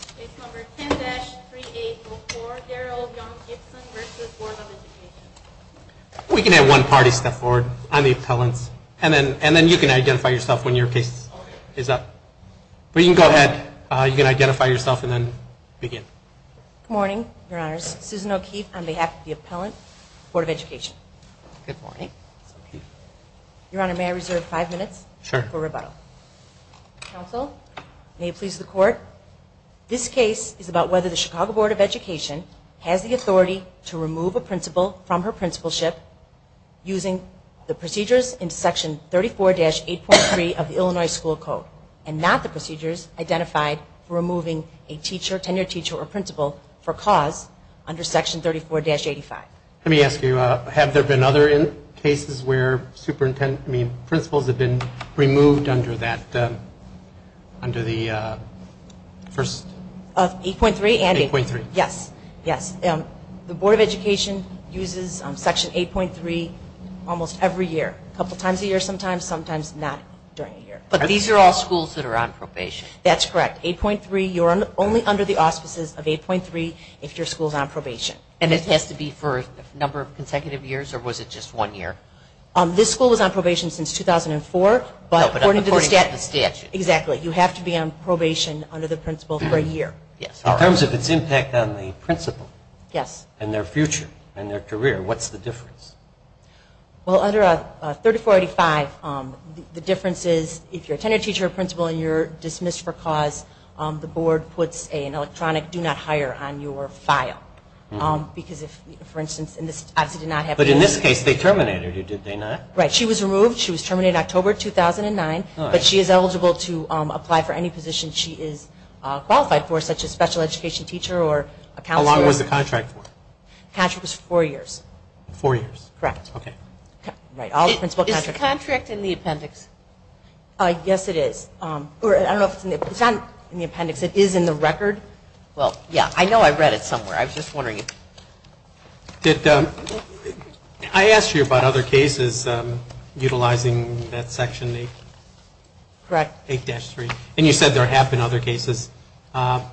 Case No. 10-3804, Daryl Young-Gibson v. Board of Education This case is about whether the Chicago Board of Education has the authority to remove a principal from her principalship using the procedures in Section 34-8.3 of the Illinois School Code and not the procedures identified for removing a teacher, tenured teacher, or principal for cause under Section 34-85. Let me ask you, have there been other cases where principals have been removed under the statute? Of 8.3 and 8.3, yes. The Board of Education uses Section 8.3 almost every year, a couple times a year sometimes, sometimes not during a year. But these are all schools that are on probation? That's correct. 8.3, you're only under the auspices of 8.3 if your school is on probation. And it has to be for a number of consecutive years or was it just one year? This school was on probation since 2004, but according to the statute, you have to be on probation under the principal for a year. In terms of its impact on the principal and their future and their career, what's the difference? Well, under 34-85, the difference is if you're a tenured teacher or principal and you're dismissed for cause, the board puts an electronic do not hire on your file. Because if, for instance, in this case they terminated her, did they not? Right. She was removed. She was terminated October 2009, but she is eligible to apply for any position she is qualified for, such as special education teacher or a counselor. How long was the contract for? The contract was four years. Four years? Correct. Okay. Is the contract in the appendix? Yes, it is. I don't know if it's in the appendix. It is in the record. Well, yeah, I know I read it somewhere. I was just wondering. I asked you about other cases utilizing that Section 8-3. Correct. And you said there have been other cases. How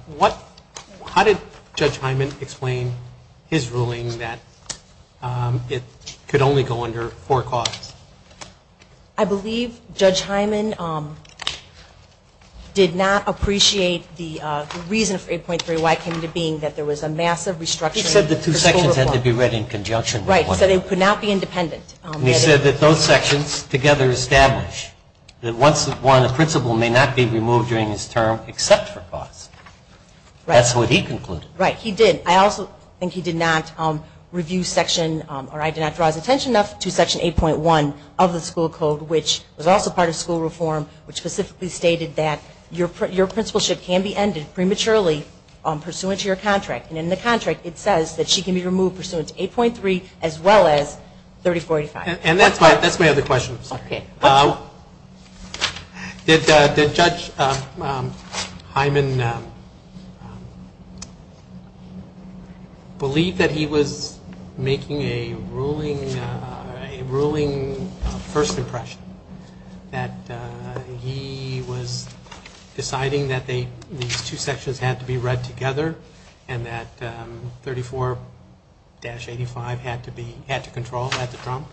did Judge Hyman explain his ruling that it could only go under four cause? I believe Judge Hyman did not appreciate the reason for 8.3Y came into being, that there was a massive restructuring. He said the two sections had to be read in conjunction. Right. He said it could not be independent. And he said that those sections together establish that once won, a principal may not be removed during his term except for cause. That's what he concluded. Right. He did. I also think he did not review Section or I did not draw his attention enough to Section 8.1 of the school code, which was also part of school reform, which specifically stated that your principalship can be ended prematurely pursuant to your contract. And in the contract, it says that she can be removed pursuant to 8.3 as well as 3485. And that's my other question. Okay. Did Judge Hyman believe that he was making a ruling, a first impression that he was deciding that these two sections had to be read together and that 34-85 had to be, had to control, had to trump?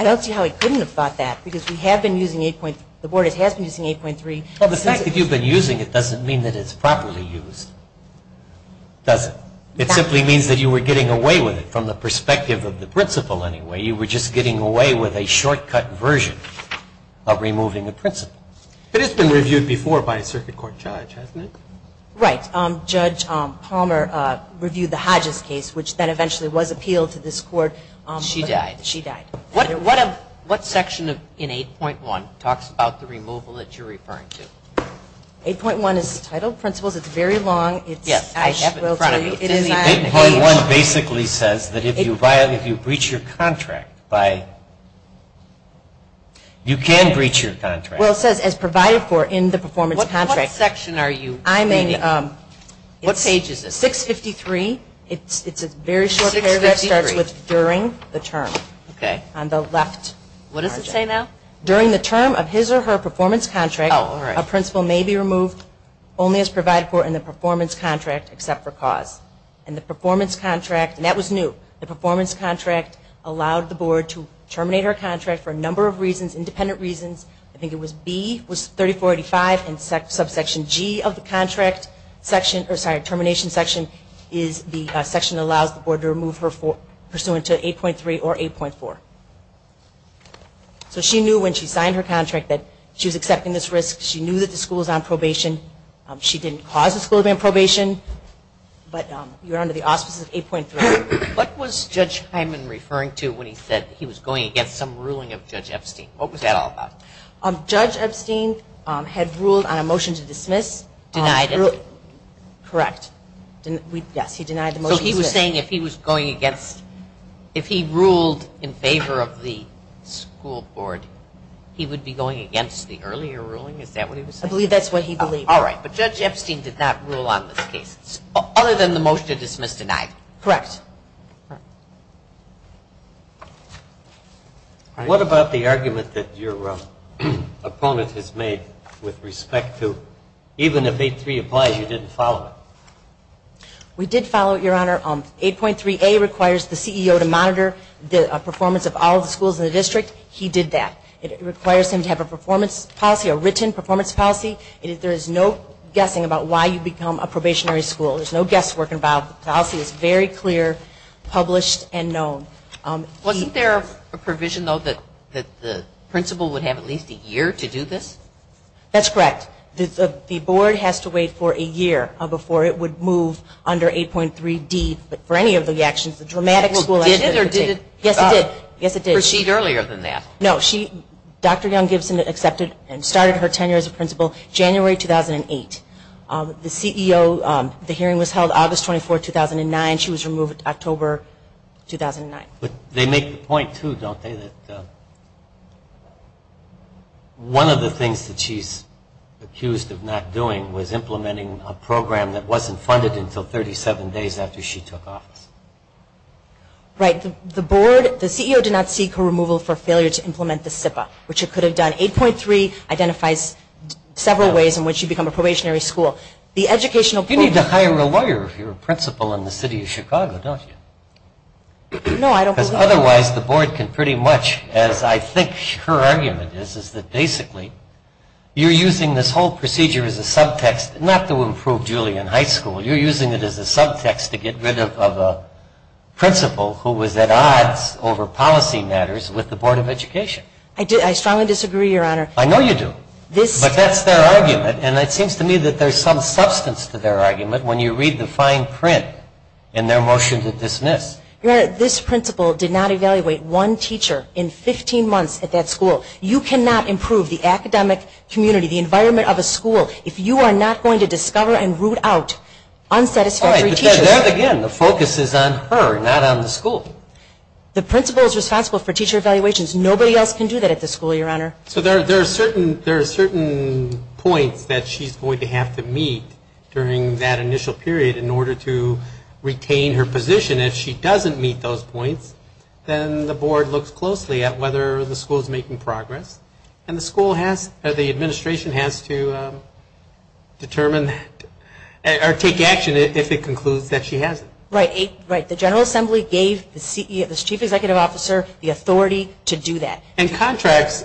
I don't see how he couldn't have thought that because we have been using 8.3, the board has been using 8.3. Well, the fact that you've been using it doesn't mean that it's properly used, does it? It simply means that you were getting away with it from the perspective of the principal anyway. You were just getting away with a shortcut version of removing a principal. But it's been reviewed before by a circuit court judge, hasn't it? Right. Judge Palmer reviewed the Hodges case, which then eventually was appealed to this court. She died. She died. What section in 8.1 talks about the removal that you're referring to? 8.1 is the title of principles. It's very long. Yes. I have it in front of me. 8.1 basically says that if you violate, if you breach your contract by, you can breach your contract. Well, it says, as provided for in the performance contract. What section are you? I'm in, it's 653. It's a very short paragraph that starts with during the term. On the left. What does it say now? During the term of his or her performance contract, a principal may be removed only as provided for in the performance contract except for cause. And the performance contract, and that was new, the performance contract allowed the board to terminate her contract for a number of reasons, independent reasons. I think it was B, was 3485 and subsection G of the contract section, or sorry, termination section, is the section that allows the board to remove her pursuant to 8.3 or 8.4. So she knew when she signed her contract that she was accepting this risk. She knew that the school was on probation. She didn't cause the school to be on probation, but you're under the auspices of 8.3. What was Judge Hyman referring to when he said he was going against some ruling of Judge Epstein? What was that all about? Judge Epstein had ruled on a motion to dismiss. Denied it. Correct. Yes. He denied the motion to dismiss. So he was saying if he was going against, if he ruled in favor of the school board, he would be going against the earlier ruling? Is that what he was saying? I believe that's what he believed. All right. But Judge Epstein did not rule on this case, other than the motion to dismiss, denied. Correct. All right. What about the argument that your opponent has made with respect to even if 8.3 applies, you didn't follow it? We did follow it, Your Honor. 8.3a requires the CEO to monitor the performance of all the schools in the district. He did that. It requires him to have a performance policy, a written performance policy. There is no guessing about why you become a probationary school. There's no guesswork involved. The policy is very clear, published, and known. Wasn't there a provision, though, that the principal would have at least a year to do this? That's correct. The board has to wait for a year before it would move under 8.3d for any of the actions the dramatic school activity. Well, did it or did it not? Yes, it did. Yes, it did. Proceed earlier than that. No. Dr. Young Gibson accepted and started her tenure as a principal January 2008. The CEO, the hearing was held August 24, 2009. She was removed October 2009. They make the point, too, don't they, that one of the things that she's accused of not doing was implementing a program that wasn't funded until 37 days after she took office. Right. The board, the CEO did not seek her removal for failure to implement the SIPA, which it could have done. 8.3 identifies several ways in which you become a probationary school. The educational board... You need to hire a lawyer if you're a principal in the city of Chicago, don't you? No, I don't believe that. Because otherwise the board can pretty much, as I think her argument is, is that basically you're using this whole procedure as a subtext, not to improve Julian High School, you're using it as a subtext to get rid of a principal who was at odds over policy matters with the Board of Education. I strongly disagree, Your Honor. I know you do. But that's their argument, and it seems to me that there's some substance to their argument when you read the fine print in their motion to dismiss. Your Honor, this principal did not evaluate one teacher in 15 months at that school. You cannot improve the academic community, the environment of a school, if you are not going to discover and root out unsatisfactory teachers. All right, but there again, the focus is on her, not on the school. The principal is responsible for teacher evaluations. Nobody else can do that at the school, Your Honor. So there are certain points that she's going to have to meet during that initial period in order to retain her position. If she doesn't meet those points, then the board looks closely at whether the school is making progress, and the school has, or the administration has to determine, or take action if it concludes that she hasn't. Right. The General Assembly gave the chief executive officer the authority to do that. And contracts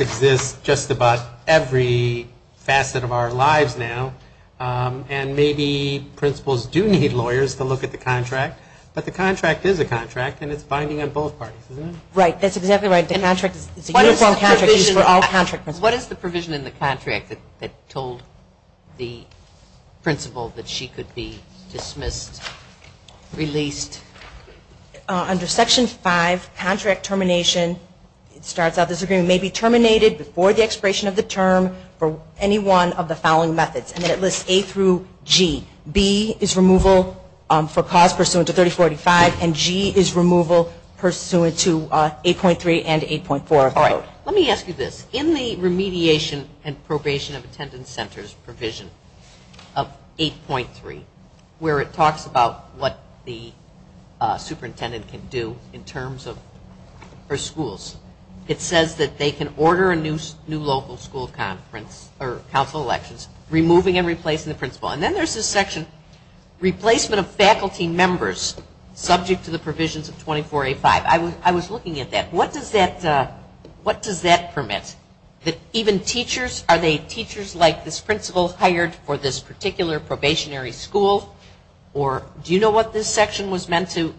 exist just about every facet of our lives now, and maybe principals do need lawyers to look at the contract, but the contract is a contract, and it's binding on both parties, isn't it? Right. That's exactly right. The contract is a uniform contract. It's for all contract principals. What is the provision in the contract that told the principal that she could be dismissed or released? Under Section 5, contract termination, it starts out, this agreement may be terminated before the expiration of the term for any one of the following methods, and it lists A through G. B is removal for cause pursuant to 3045, and G is removal pursuant to 8.3 and 8.4 of the code. All right. Let me ask you this. In the remediation and probation of attendance centers provision of 8.3, where it talks about what the superintendent can do in terms of her schools, it says that they can order a new local school conference or council elections, removing and replacing the principal. And then there's this section, replacement of faculty members subject to the provisions of 24A5. I was looking at that. What does that permit? Even teachers, are they teachers like this principal hired for this particular probationary school? Or do you know what this section was meant to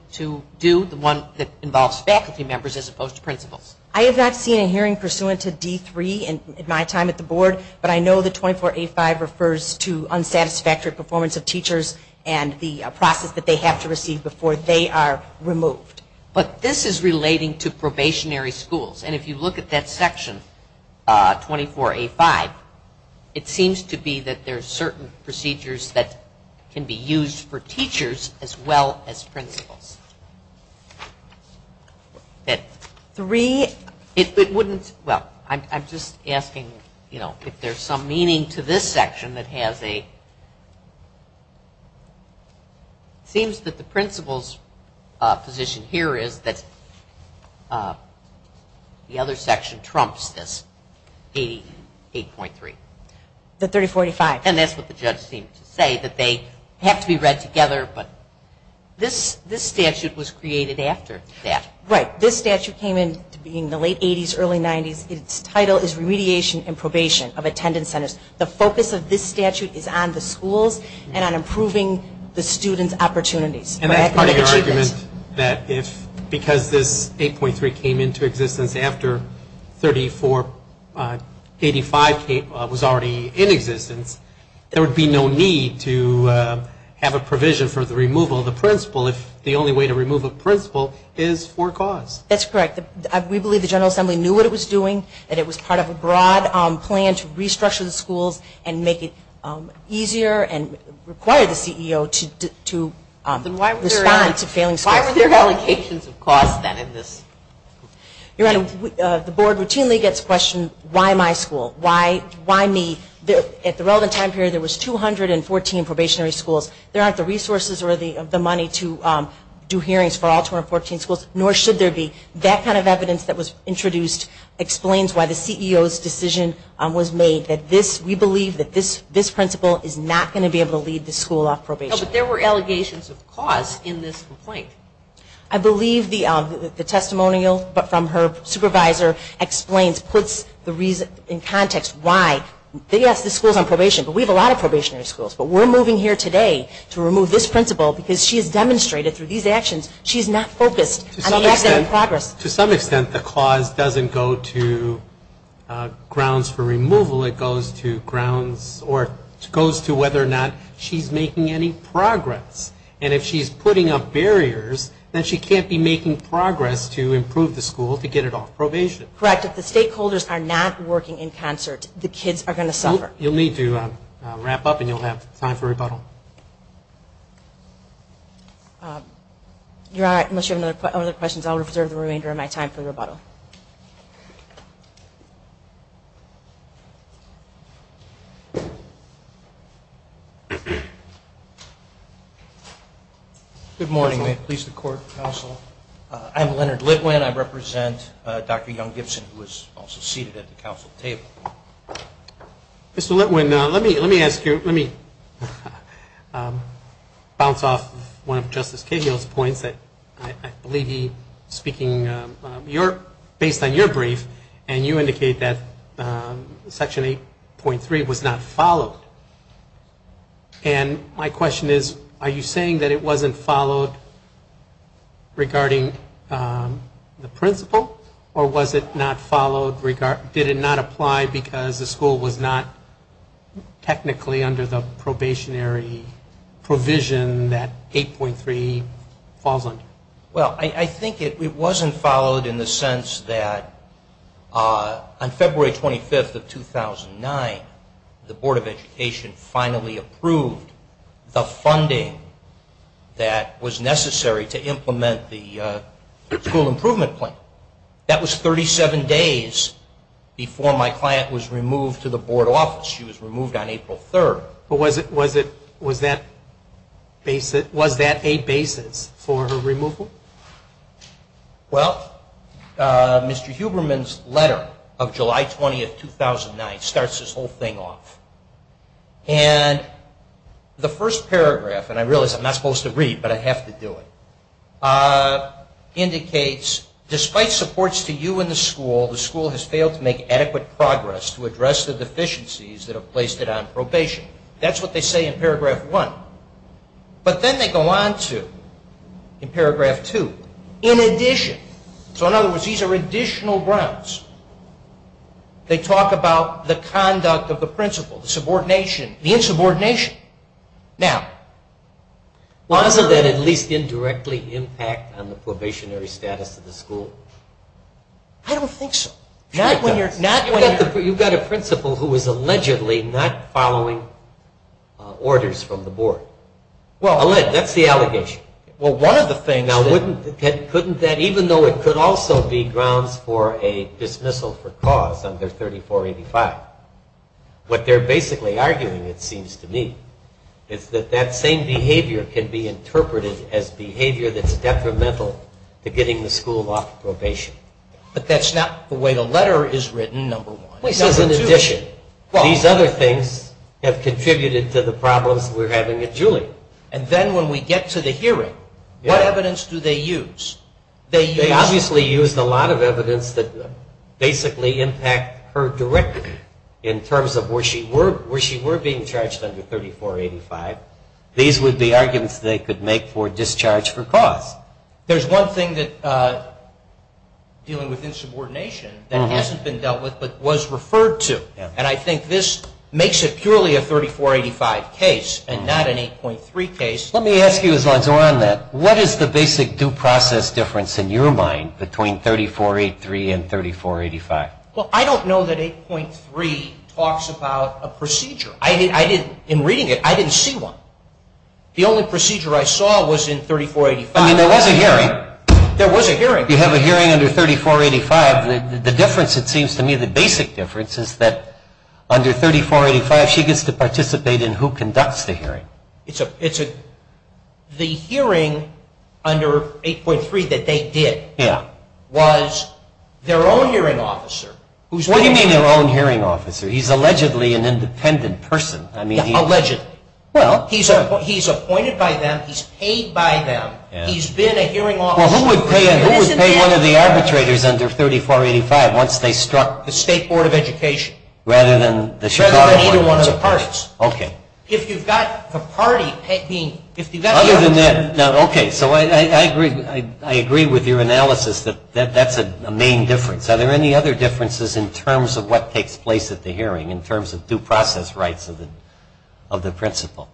do, the one that involves faculty members as opposed to principals? I have not seen a hearing pursuant to D3 in my time at the board, but I know that 24A5 refers to unsatisfactory performance of teachers and the process that they have to receive before they are removed. But this is relating to probationary schools, and if you look at that section 24A5, it seems to be that there are certain procedures that can be used for teachers as well as principals. That three, it wouldn't, well, I'm just asking, you know, if there's some meaning to this section that has a, it seems that the principal's position here is that the other section trumps this 88.3. The 3045. And that's what the judge seemed to say, that they have to be read together, but this statute was created after that. Right. This statute came in in the late 80s, early 90s. Its title is Remediation and Probation of Attendance Centers. The focus of this statute is on the schools and on improving the students' opportunities. And that's part of your argument that if, because this 8.3 came into existence after 3485 was already in existence, there would be no need to have a provision for the removal of the principal if the only way to remove a principal is for cause. That's correct. We believe the General Assembly knew what it was doing, that it was part of a broad plan to restructure the schools and make it easier and require the CEO to respond to failing schools. Then why were there allocations of cost then in this? Your Honor, the board routinely gets questioned, why my school? Why me? At the relevant time period, there was 214 probationary schools. There aren't the resources or the money to do hearings for all 214 schools, nor should there be. That kind of evidence that was introduced explains why the CEO's decision was made, that this, we believe that this principal is not going to be able to lead the school off probation. No, but there were allegations of cost in this complaint. I believe the testimonial from her supervisor explains, puts in context why, yes, this school is on probation, but we have a lot of probationary schools, but we're moving here today to remove this principal because she has demonstrated through these actions, she's not focused on the action in progress. To some extent, the clause doesn't go to grounds for removal, it goes to grounds, or it goes to whether or not she's making any progress. And if she's putting up barriers, then she can't be making progress to improve the school to get it off probation. Correct, if the stakeholders are not working in concert, the kids are going to suffer. You'll need to wrap up, and you'll have time for rebuttal. You're all right, unless you have other questions, I'll reserve the remainder of my time for rebuttal. Good morning, may it please the court, counsel. I'm Leonard Litwin, I represent Dr. Young-Gibson, who is also seated at the counsel table. Mr. Litwin, let me ask you, let me bounce off one of Justice Cahill's points, I believe he's speaking based on your brief, and you indicate that Section 8.3 was not followed. And my question is, are you saying that it wasn't followed regarding the principal, or was it not followed, did it not apply because the school was not technically under the probationary provision that 8.3 falls under? Well, I think it wasn't followed in the sense that on February 25th of 2009, the Board of Education finally approved the funding that was necessary to implement the school improvement plan. That was 37 days before my client was removed to the board office. She was removed on April 3rd. But was that a basis for her removal? Well, Mr. Huberman's letter of July 20th, 2009 starts this whole thing off. And the first paragraph, and I realize I'm not supposed to read, but I have to do it, indicates, despite supports to you and the school, the school has failed to make adequate progress to address the deficiencies that have placed it on probation. That's what they say in paragraph 1. But then they go on to, in paragraph 2, in addition. So in other words, these are additional grounds. They talk about the conduct of the principal, the insubordination. Now, wasn't that at least indirectly impact on the probationary status of the school? I don't think so. You've got a principal who is allegedly not following orders from the board. That's the allegation. Well, one of the things that couldn't that even though it could also be grounds for a dismissal for cause under 3485, what they're basically arguing, it seems to me, is that that same behavior can be interpreted as behavior that's detrimental to getting the school off probation. But that's not the way the letter is written, number one. It says in addition. These other things have contributed to the problems we're having at Julie. And then when we get to the hearing, what evidence do they use? They obviously used a lot of evidence that basically impact her directly in terms of where she were being charged under 3485. These would be arguments they could make for discharge for cause. There's one thing dealing with insubordination that hasn't been dealt with but was referred to. And I think this makes it purely a 3485 case and not an 8.3 case. Let me ask you as long as we're on that. What is the basic due process difference in your mind between 3483 and 3485? I don't know that 8.3 talks about a procedure. In reading it, I didn't see one. The only procedure I saw was in 3485. There was a hearing. You have a hearing under 3485. The difference it seems to me, the basic difference is that under 3485, she gets to participate in who conducts the hearing. The hearing under 8.3 that they did was their own hearing officer. What do you mean their own hearing officer? He's allegedly an independent person. Allegedly. He's appointed by them. He's paid by them. He's been a hearing officer. Who would pay one of the arbitrators under 3485 once they struck the State Board of Education rather than either one of the parties? Okay. If you've got the party being Other than that, okay. I agree with your analysis that that's a main difference. Are there any other differences in terms of what takes place at the hearing in terms of due process rights of the principal?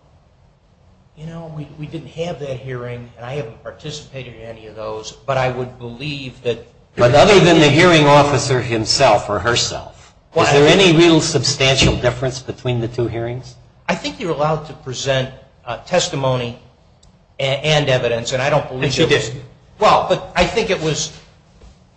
You know, we didn't have that hearing, and I haven't participated in any of those, but I would believe that But other than the hearing officer himself or herself, is there any real substantial difference between the two hearings? I think you're allowed to present testimony and evidence, and I don't believe But you didn't. Well, but I think it was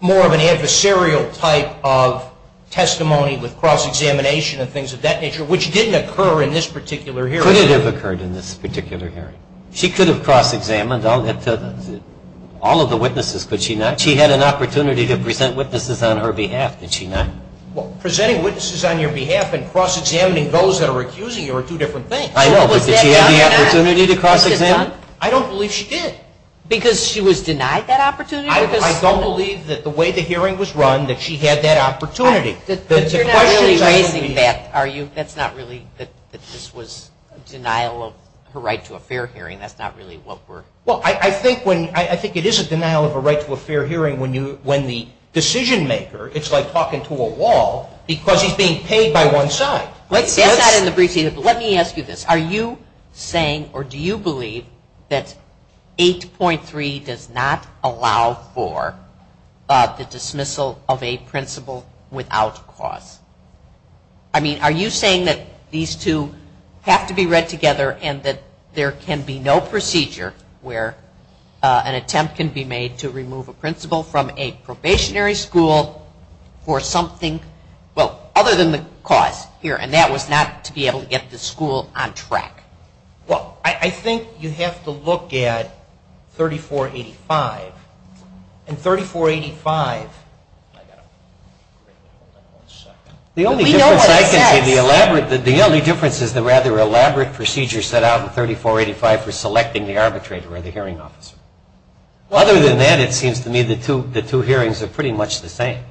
more of an adversarial type of testimony with cross-examination and things of that nature, which didn't occur in this particular hearing. Could it have occurred in this particular hearing? She could have cross-examined all of the witnesses, could she not? She had an opportunity to present witnesses on her behalf, did she not? Well, presenting witnesses on your behalf and cross-examining those that are accusing you are two different things. I know, but did she have the opportunity to cross-examine? I don't believe she did. Because she was denied that opportunity? I don't believe that the way the hearing was run that she had that opportunity. You're not really raising that, are you? That's not really that this was denial of her right to a fair hearing, that's not really what we're Well, I think it is a denial of a right to a fair hearing when the decision maker, it's like talking to a wall, because he's being paid by one side. That's not in the briefs either, but let me ask you this. Are you saying, or do you for the dismissal of a principal without cause? I mean, are you saying that these two have to be read together and that there can be no procedure where an attempt can be made to remove a principal from a probationary school for something, well, other than the cause here, and that was not to be able to get the school on track? Well, I think you have to look at 3485. And 3485, I got to wait one second. We know what it says. The only difference is the rather elaborate procedure set out in 3485 for selecting the arbitrator or the hearing officer. Other than that, it seems to me the two hearings are pretty much the same.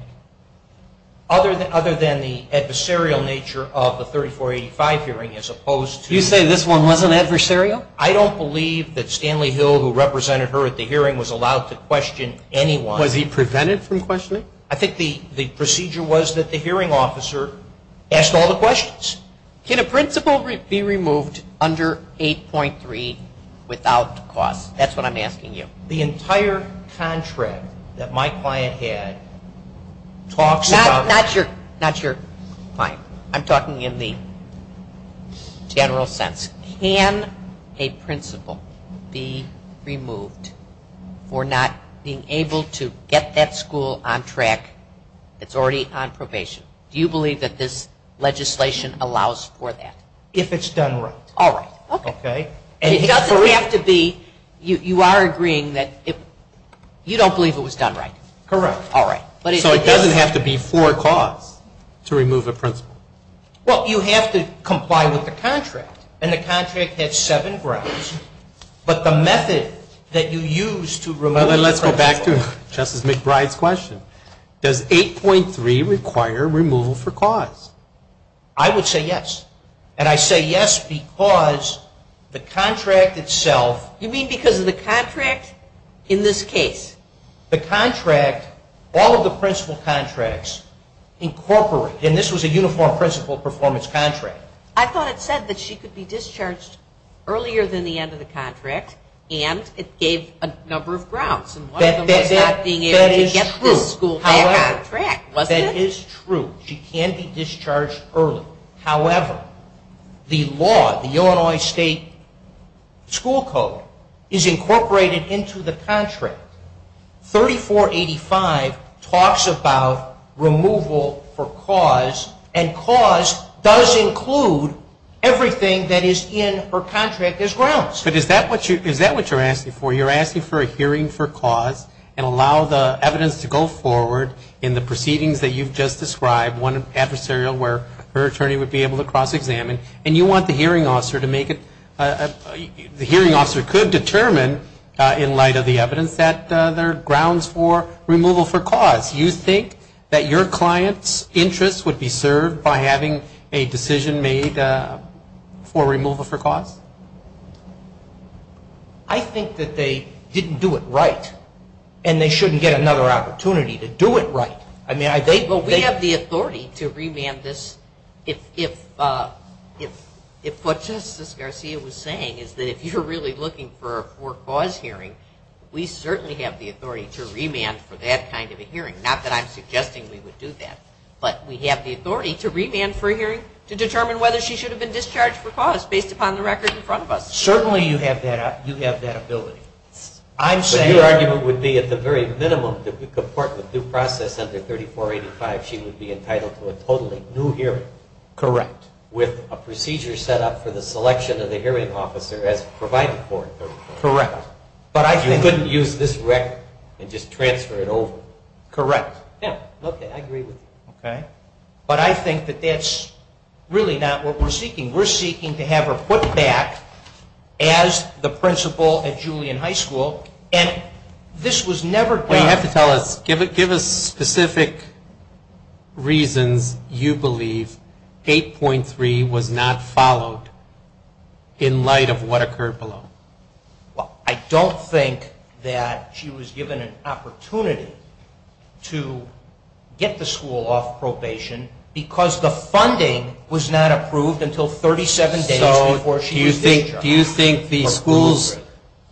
Other than the adversarial nature of the 3485 hearing as opposed to this one, was it adversarial? I don't believe that Stanley Hill, who represented her at the hearing, was allowed to question anyone. Was he prevented from questioning? I think the procedure was that the hearing officer asked all the questions. Can a principal be removed under 8.3 without cause? That's what I'm asking you. The entire contract that my client had talks about... Not your client. I'm talking in the general sense. Can a principal be removed for not being able to get that school on track that's already on probation? Do you believe that this legislation allows for that? If it's done right. You are agreeing that you don't believe it was done right? Correct. So it doesn't have to be for cause to remove a principal? Well, you have to comply with the contract. And the contract has seven grounds. But the method that you use to remove a principal... Let's go back to Justice McBride's question. Does 8.3 require removal for cause? I would say yes. And I say yes because the contract itself... You mean because of the contract in this case? The contract, all of the principal contracts incorporate... And this was a uniform principal performance contract. I thought it said that she could be discharged earlier than the end of the contract. And it gave a number of grounds. That is true. That is true. She can be discharged early. However, the law, the Illinois State School Code is incorporated into the contract. 3485 talks about removal for cause. And cause does include everything that is in her contract as grounds. But is that what you're asking for? You're asking for a hearing for cause and allow the evidence to go forward in the case to be able to cross-examine. And you want the hearing officer to make it... The hearing officer could determine in light of the evidence that there are grounds for removal for cause. You think that your client's interest would be served by having a decision made for removal for cause? I think that they didn't do it right. And they shouldn't get another opportunity to do it right. We have the authority to remand this if what Justice Garcia was saying is that if you're really looking for a cause hearing, we certainly have the authority to remand for that kind of a hearing. Not that I'm suggesting we would do that. But we have the authority to remand for a hearing to determine whether she should have been discharged for cause based upon the record in front of us. Certainly you have that ability. Your argument would be at the very minimum that with due process under 3485 she would be entitled to a totally new hearing. Correct. With a procedure set up for the selection of the hearing officer as provided for in 3485. Correct. You couldn't use this record and just transfer it over. Correct. But I think that that's really not what we're seeking. We're seeking to have her put back as the principal at Julian High School. And this was never done... You have to tell us, give us specific reasons you believe 8.3 was not followed in light of what occurred below. I don't think that she was given an opportunity to get the school off probation because the funding was not approved until 37 days before she was discharged. Do you think the school's,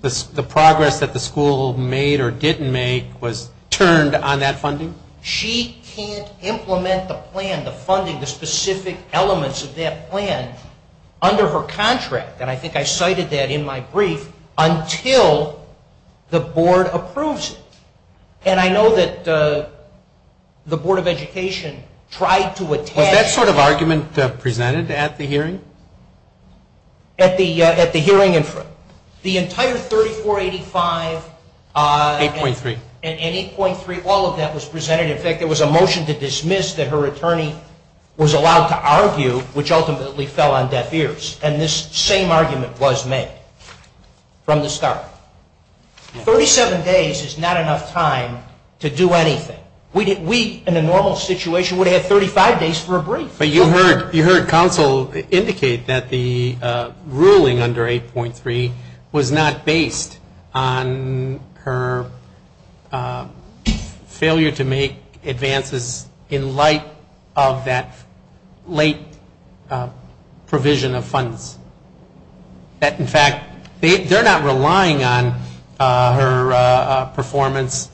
the progress that the school made or didn't make was turned on that funding? She can't implement the plan, the funding, the specific elements of that plan under her contract. And I think I cited that in my brief until the board approves it. And I know that the Board of Education tried to attach... Was that sort of argument presented at the hearing? At the hearing in front. The entire 3485... 8.3. And 8.3, all of that was presented. In fact, there was a motion to dismiss that her attorney was allowed to argue, which ultimately fell on deaf ears. And this same argument was made from the start. 37 days is not enough time to do anything. We, in a normal situation, would have had 35 days for a brief. But you heard counsel indicate that the ruling under 8.3 was not based on her failure to make advances in light of that late provision of funds. That, in fact, they're not relying on her performance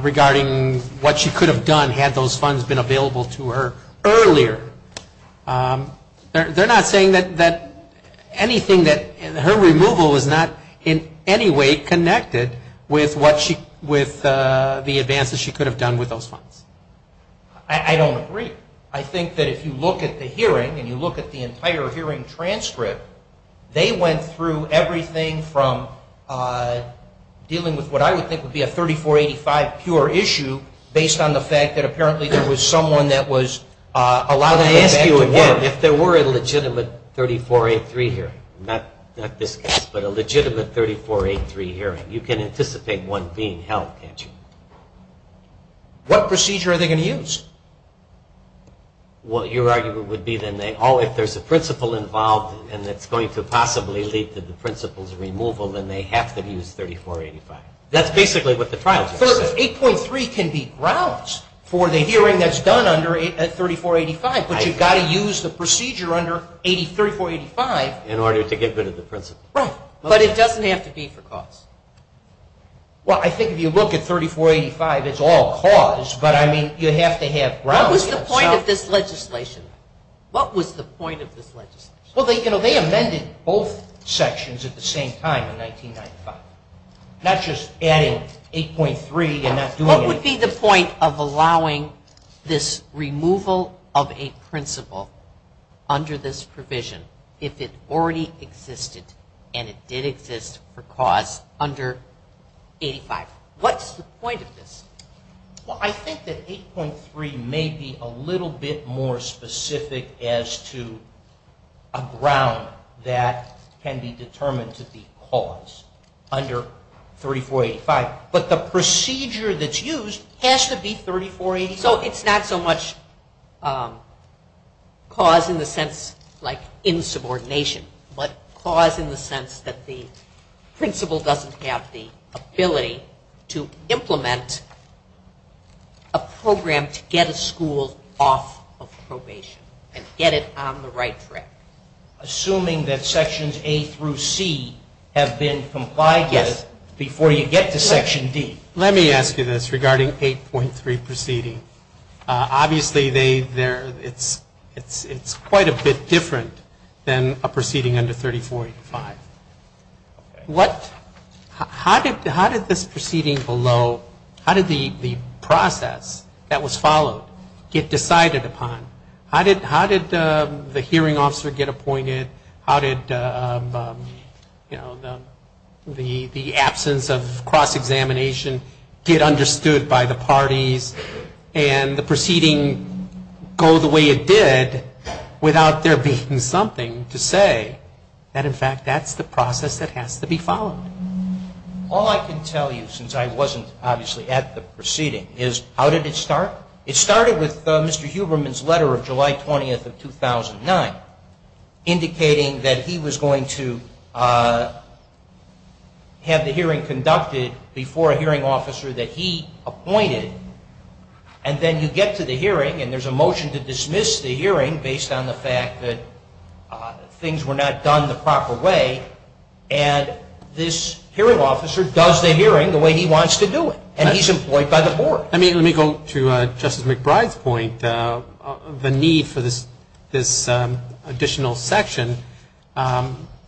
regarding what she could have done had those funds been available to her earlier. They're not saying that anything that... Her removal is not in any way connected with the advances she could have done with those funds. I don't agree. I think that if you look at the hearing and you look at the entire hearing transcript, they went through everything from dealing with what I would think would be a I ask you again, if there were a legitimate 3483 hearing, not this case, but a legitimate 3483 hearing, you can anticipate one being held, can't you? What procedure are they going to use? Your argument would be that if there's a principal involved and it's going to possibly lead to the principal's removal, then they have to use 3485. That's basically what the trial just said. 8.3 can be grounds for the hearing that's done under 3485, but you've got to use the procedure under 3485 in order to get rid of the principal. Right, but it doesn't have to be for cause. Well, I think if you look at 3485, it's all cause, but you have to have grounds. What was the point of this legislation? Well, they amended both sections at the same time in 1995. Not just adding 8.3 and not doing anything. What would be the point of allowing this removal of a principal under this provision if it already existed and it did exist for cause under 85? What's the point of this? Well, I think that 8.3 may be a little bit more specific as to a ground that can be determined to be cause under 3485, but the procedure that's used has to be 3485. So it's not so much cause in the sense like insubordination, but cause in the sense that the principal doesn't have the ability to implement a program to get a school off of probation and get it on the right track. Assuming that sections A through C have been complied with before you get to section D. Let me ask you this regarding 8.3 proceeding. Obviously, it's quite a bit different than a proceeding under 3485. How did this proceeding below, how did the process that was followed get decided upon? How did the hearing officer get appointed? How did the absence of cross-examination get understood by the parties and the proceeding go the way it did without there being something to say that, in fact, that's the process that has to be followed? All I can tell you, since I wasn't obviously at the proceeding, is how did it start? It started with Mr. Huberman's letter of July 20th of 2009, indicating that he was going to have the hearing conducted before a hearing officer that he appointed. And then you get to the hearing and there's a motion to dismiss the hearing based on the fact that things were not done the proper way, and this hearing officer does the hearing the way he wants to do it, and he's employed by the board. Let me go to Justice McBride's point. The need for this additional section,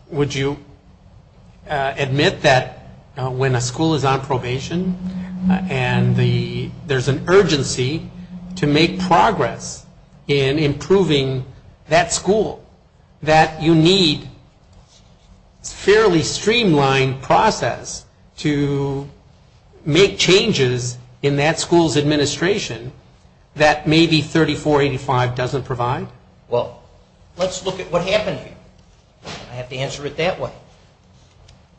would you admit that when a school is on probation and there's an urgency to make progress in improving that school, that you need a fairly streamlined process to make changes in that school's administration that maybe 3485 doesn't provide? Well, let's look at what happened here. I have to answer it that way.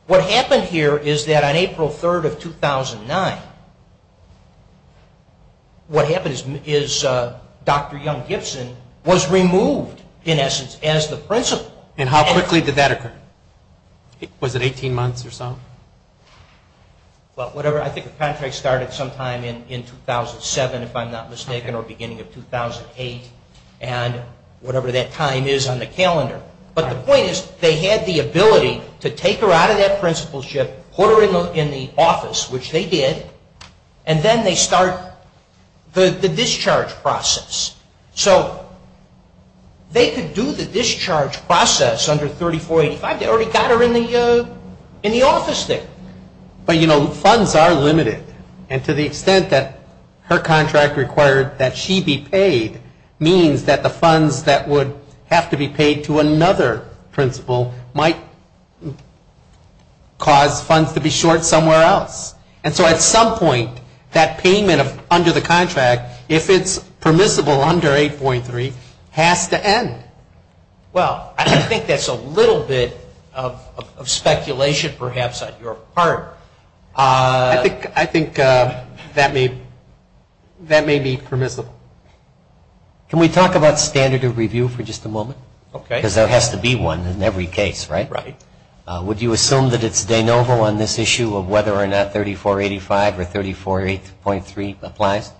What happened here is that on April 3rd of 2009, what happened is Dr. Young Gibson was removed, in essence, as the principal. And how quickly did that occur? Was it 18 months or so? Well, I think the contract started sometime in 2007, if I'm not mistaken, or beginning of 2008, and whatever that time is on the calendar. But the point is they had the ability to take her out of that principalship, put her in the office, which they did, and then they start the discharge process. So they could do the discharge process under 3485. They already got her in the office there. But, you know, funds are limited, and to the extent that her contract required that she be paid means that the funds that would have to be paid to another principal might cause funds to be short somewhere else. And so at some point, that payment under the contract, if it's permissible under 8.3, has to end. Well, I think that's a little bit of speculation, perhaps, on your part. I think that may be permissible. Can we talk about standard of review for just a moment? Okay. Because there has to be one in every case, right? Right. Would you assume that it's de novo on this issue of whether or not 3485 or 348.3 applies?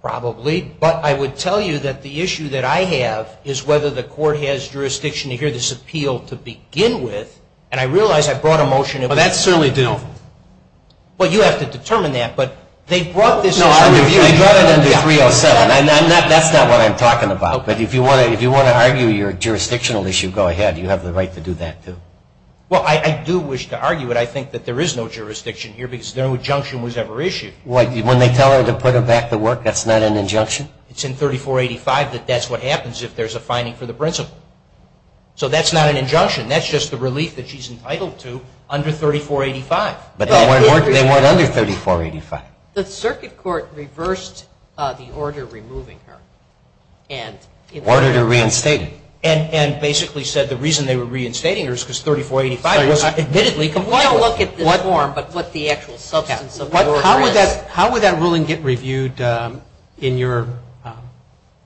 Probably. But I would tell you that the issue that I have is whether the court has jurisdiction to hear this appeal to begin with. And I realize I brought a motion. Well, that's certainly de novo. Well, you have to determine that. But they brought this as a review. No, I brought it under 307. That's not what I'm talking about. But if you want to argue your jurisdictional issue, go ahead. You have the right to do that, too. Well, I do wish to argue it. I think that there is no jurisdiction here because no injunction was ever issued. When they tell her to put her back to work, that's not an injunction? It's in 3485 that that's what happens if there's a finding for the principal. So that's not an injunction. That's just the relief that she's entitled to under 3485. But they weren't under 3485. The circuit court reversed the order removing her. Ordered her reinstated. And basically said the reason they were reinstating her is because 3485 was admittedly compliant. We don't look at this form, but what the actual substance of the order is. How would that ruling get reviewed in your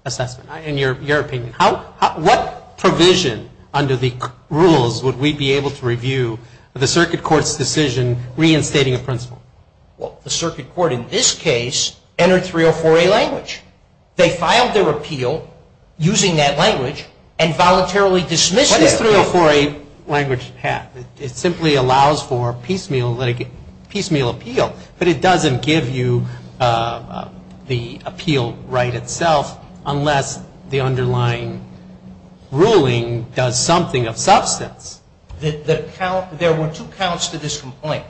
assessment, in your opinion? What provision under the rules would we be able to review the circuit court's decision reinstating a principal? Well, the circuit court in this case entered 304A language. They filed their appeal using that language and voluntarily dismissed it. What does 304A language have? It simply allows for piecemeal appeal. But it doesn't give you the appeal right itself unless the underlying ruling does something of substance. There were two counts to this complaint.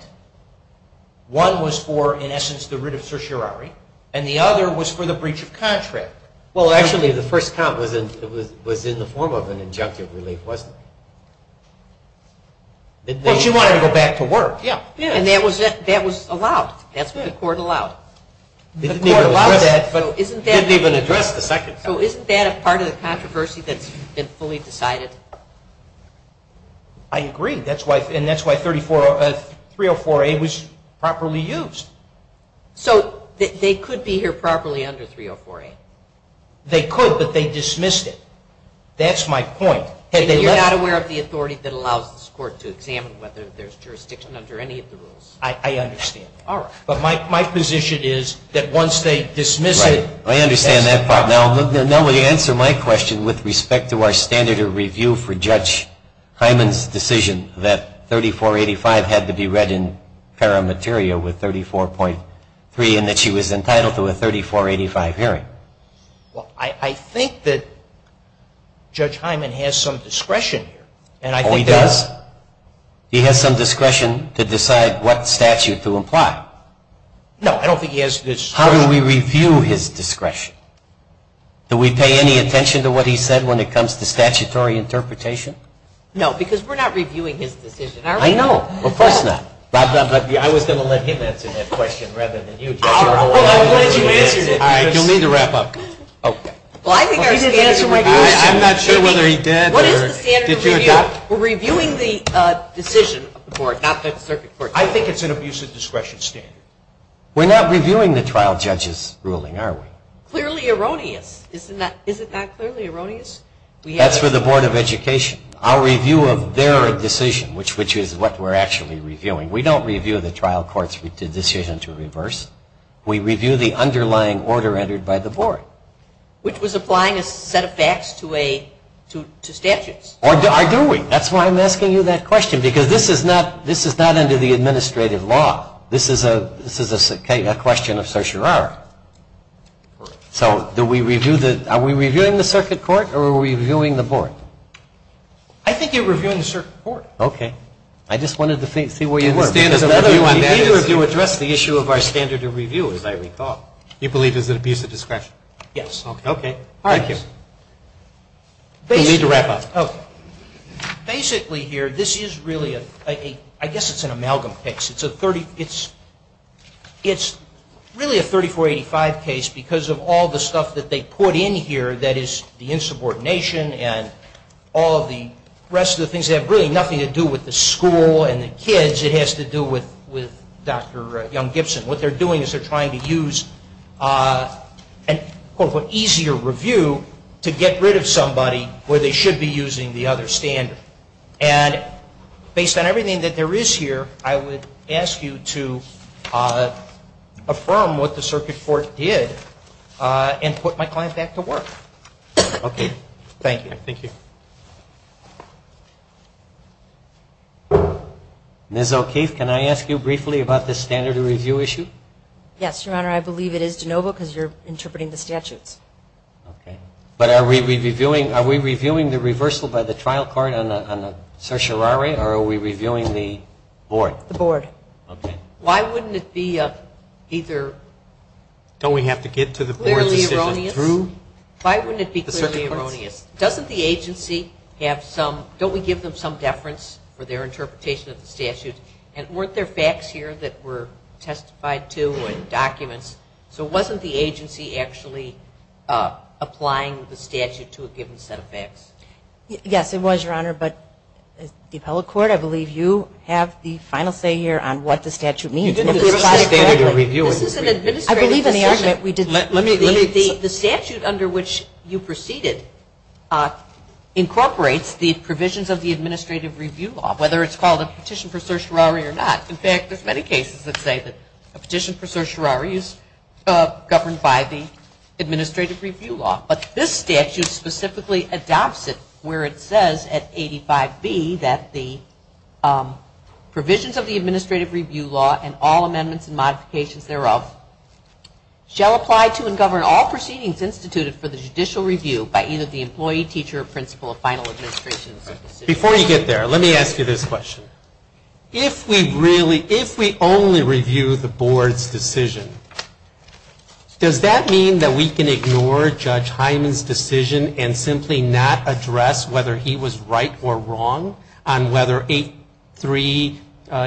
One was for, in essence, the writ of certiorari. And the other was for the breach of contract. Well, actually, the first count was in the form of an injunctive relief, wasn't it? Well, she wanted to go back to work. And that was allowed. That's what the court allowed. The court allowed that but didn't even address the second. So isn't that a part of the controversy that's been fully decided? I agree. And that's why 304A was properly used. So they could be here properly under 304A? They could, but they dismissed it. That's my point. And you're not aware of the authority that allows this court to examine whether there's jurisdiction under any of the rules? I understand. All right. But my position is that once they dismiss it. Right. I understand that part. Now, to answer my question with respect to our standard of review for Judge Hyman's decision that 3485 had to be read in paramateria with 34.3 and that she was entitled to a 3485 hearing. Well, I think that Judge Hyman has some discretion here. Oh, he does? He has some discretion to decide what statute to apply. No, I don't think he has discretion. How do we review his discretion? Do we pay any attention to what he said when it comes to statutory interpretation? No, because we're not reviewing his decision. I know. Of course not. But I was going to let him answer that question rather than you. I'm glad you answered it. All right. You'll need to wrap up. Okay. Well, I think our standard of review. I'm not sure whether he did. What is the standard of review? We're reviewing the decision of the court, not the circuit court. I think it's an abusive discretion standard. We're not reviewing the trial judge's ruling, are we? Clearly erroneous. Is it not clearly erroneous? That's for the Board of Education. Our review of their decision, which is what we're actually reviewing. We don't review the trial court's decision to reverse. We review the underlying order entered by the board. Which was applying a set of facts to statutes. Or do we? That's why I'm asking you that question, because this is not under the administrative law. This is a question of certiorari. So are we reviewing the circuit court or are we reviewing the board? I think you're reviewing the circuit court. Okay. I just wanted to see where you were. You need to address the issue of our standard of review, as I recall. You believe it's an abusive discretion? Yes. Okay. All right. You'll need to wrap up. Okay. Basically here, this is really a, I guess it's an amalgam fix. It's really a 3485 case because of all the stuff that they put in here that is the insubordination and all of the rest of the things that have really nothing to do with the school and the kids. It has to do with Dr. Young-Gibson. What they're doing is they're trying to use an easier review to get rid of somebody where they should be using the other standard. And based on everything that there is here, I would ask you to affirm what the circuit court did and put my client back to work. Okay. Thank you. Thank you. Ms. O'Keefe, can I ask you briefly about the standard of review issue? Yes, Your Honor. I believe it is de novo because you're interpreting the statutes. Okay. But are we reviewing the reversal by the trial court on the certiorari or are we reviewing the board? The board. Okay. Why wouldn't it be either clearly erroneous? Don't we have to get to the board decision through the circuit courts? Why wouldn't it be clearly erroneous? Doesn't the agency have some, don't we give them some deference for their interpretation of the statute? And weren't there facts here that were testified to and documents? So wasn't the agency actually applying the statute to a given set of facts? Yes, it was, Your Honor. But the appellate court, I believe you have the final say here on what the statute means. You didn't give us the standard of review. This is an administrative decision. I believe in the argument we did. Let me, let me. The statute under which you proceeded incorporates the provisions of the administrative review law, whether it's called a petition for certiorari or not. In fact, there's many cases that say that a petition for certiorari is governed by the administrative review law. But this statute specifically adopts it where it says at 85B that the provisions of the administrative review law and all amendments and modifications thereof shall apply to and govern all proceedings instituted for the judicial review by either the employee, teacher, or principal of final administration. Before you get there, let me ask you this question. If we really, if we only review the board's decision, does that mean that we can ignore Judge Hyman's decision and simply not address whether he was right or wrong on whether 8.3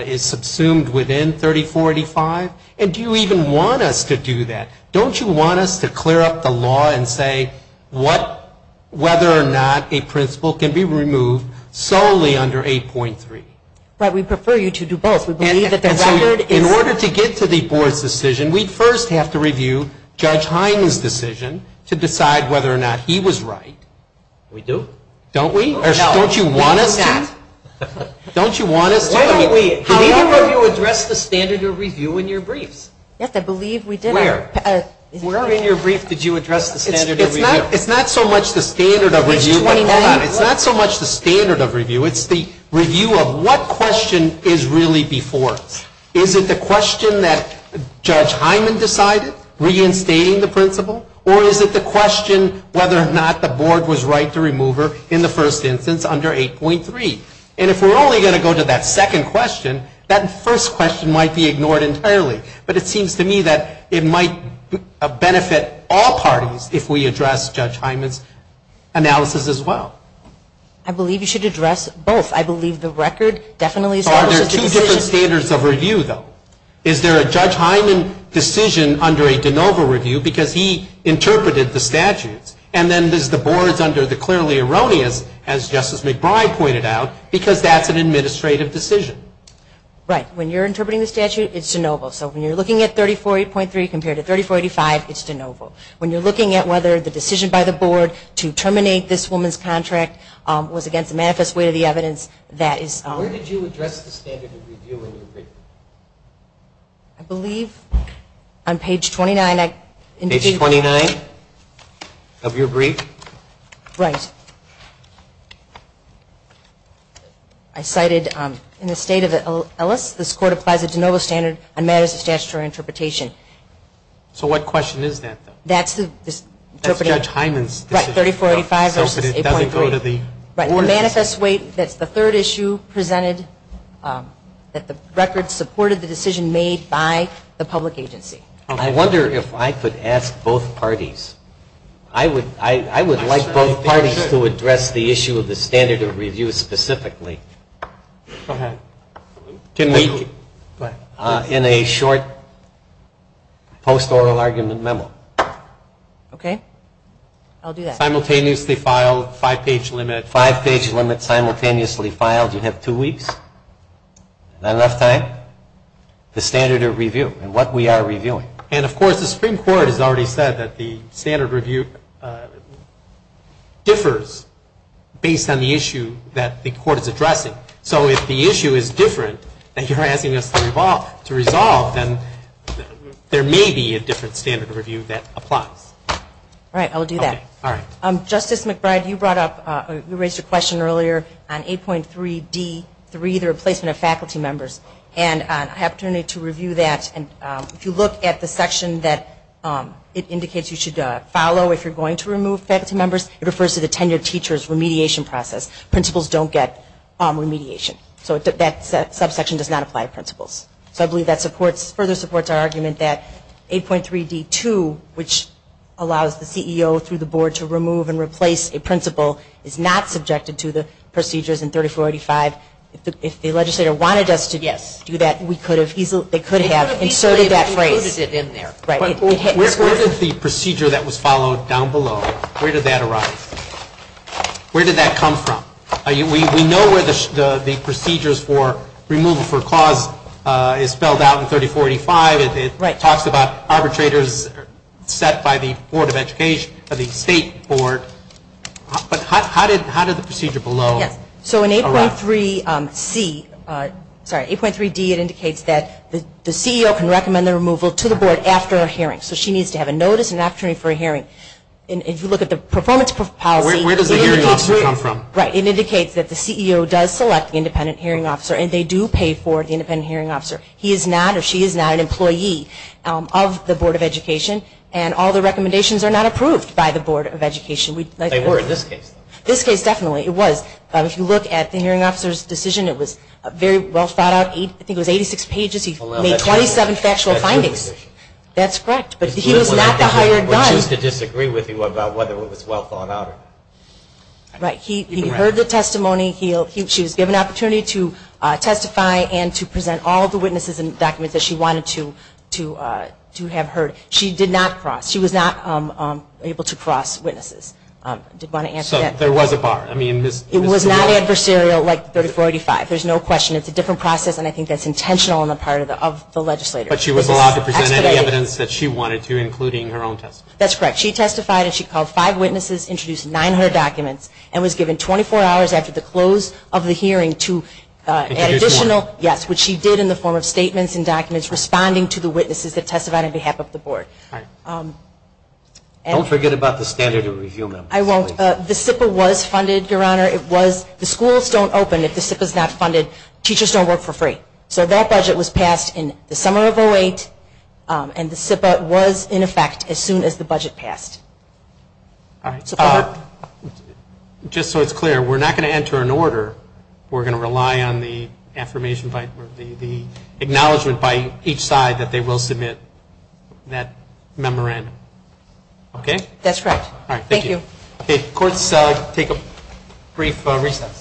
is subsumed within 30485? And do you even want us to do that? Don't you want us to clear up the law and say what, whether or not a principal can be removed solely under 8.3? But we prefer you to do both. We believe that the record is And so in order to get to the board's decision, we'd first have to review Judge Hyman's decision to decide whether or not he was right. We do. Don't we? No. Don't you want us to? Don't you want us to? Why don't we? However, you addressed the standard of review in your briefs. Yes, I believe we did. Where? Where in your brief did you address the standard of review? It's not so much the standard of review. It's 29. It's not so much the standard of review. It's the review of what question is really before us. Is it the question that Judge Hyman decided, reinstating the principal, or is it the question whether or not the board was right to remove her in the first instance under 8.3? And if we're only going to go to that second question, that first question might be ignored entirely. But it seems to me that it might benefit all parties if we address Judge Hyman's analysis as well. I believe you should address both. I believe the record definitely establishes the decision. Are there two different standards of review, though? Is there a Judge Hyman decision under a de novo review because he interpreted the statutes, and then there's the boards under the clearly erroneous, as Justice McBride pointed out, because that's an administrative decision. Right. When you're interpreting the statute, it's de novo. So when you're looking at 34.8.3 compared to 34.85, it's de novo. When you're looking at whether the decision by the board to terminate this woman's contract was against the manifest way of the evidence, that is. Where did you address the standard of review in your brief? I believe on page 29. Page 29 of your brief? Right. I cited in the state of Ellis, this court applies a de novo standard on matters of statutory interpretation. So what question is that, though? That's the interpreting. That's Judge Hyman's decision. 34.85 versus 8.3. But it doesn't go to the board. Right. The manifest way, that's the third issue presented that the record supported the decision made by the public agency. I wonder if I could ask both parties. I would like both parties to address the issue of the standard of review specifically. Go ahead. In a short post-oral argument memo. Okay. I'll do that. Simultaneously filed, five-page limit. Five-page limit simultaneously filed. You have two weeks. Not enough time. The standard of review and what we are reviewing. And, of course, the Supreme Court has already said that the standard of review differs based on the issue that the court is addressing. So if the issue is different that you're asking us to resolve, then there may be a different standard of review that applies. All right. I'll do that. All right. Justice McBride, you raised a question earlier on 8.3D3, the replacement of faculty members. And I have an opportunity to review that. And if you look at the section that it indicates you should follow if you're going to remove faculty members, it refers to the tenure of teachers remediation process. Principals don't get remediation. So that subsection does not apply to principals. So I believe that supports, further supports our argument that 8.3D2, which allows the CEO through the board to remove and replace a principal, is not subjected to the procedures in 3485. If the legislator wanted us to do that, they could have inserted that phrase. Where did the procedure that was followed down below, where did that arise? Where did that come from? We know where the procedures for removal for cause is spelled out in 3485. It talks about arbitrators set by the Board of Education, the state board. But how did the procedure below arise? So in 8.3C, sorry, 8.3D, it indicates that the CEO can recommend the removal to the board after a hearing. So she needs to have a notice and an opportunity for a hearing. And if you look at the performance policy, it indicates that the CEO does select the independent hearing officer and they do pay for the independent hearing officer. He is not or she is not an employee of the Board of Education and all the recommendations are not approved by the Board of Education. They were in this case. This case, definitely. It was. If you look at the hearing officer's decision, it was very well thought out. I think it was 86 pages. He made 27 factual findings. That's correct. But he was not the hired gun. He would choose to disagree with you about whether it was well thought out. Right. He heard the testimony. She was given an opportunity to testify and to present all the witnesses and documents that she wanted to have heard. She did not cross. She was not able to cross witnesses. I did want to answer that. So there was a bar. It was not adversarial like 3485. There's no question. It's a different process and I think that's intentional on the part of the legislator. But she was allowed to present any evidence that she wanted to, including her own testimony. That's correct. She testified and she called five witnesses, introduced 900 documents, and was given 24 hours after the close of the hearing to add additional, which she did in the form of statements and documents responding to the witnesses that testified on behalf of the Board. Don't forget about the standard of review. I won't. The SIPA was funded, Your Honor. It was. The schools don't open if the SIPA is not funded. Teachers don't work for free. So that budget was passed in the summer of 2008 and the SIPA was in effect as soon as the budget passed. Just so it's clear, we're not going to enter an order. We're going to rely on the acknowledgement by each side that they will submit that memorandum. Okay? That's right. All right. Thank you. Okay. Courts, take a brief recess.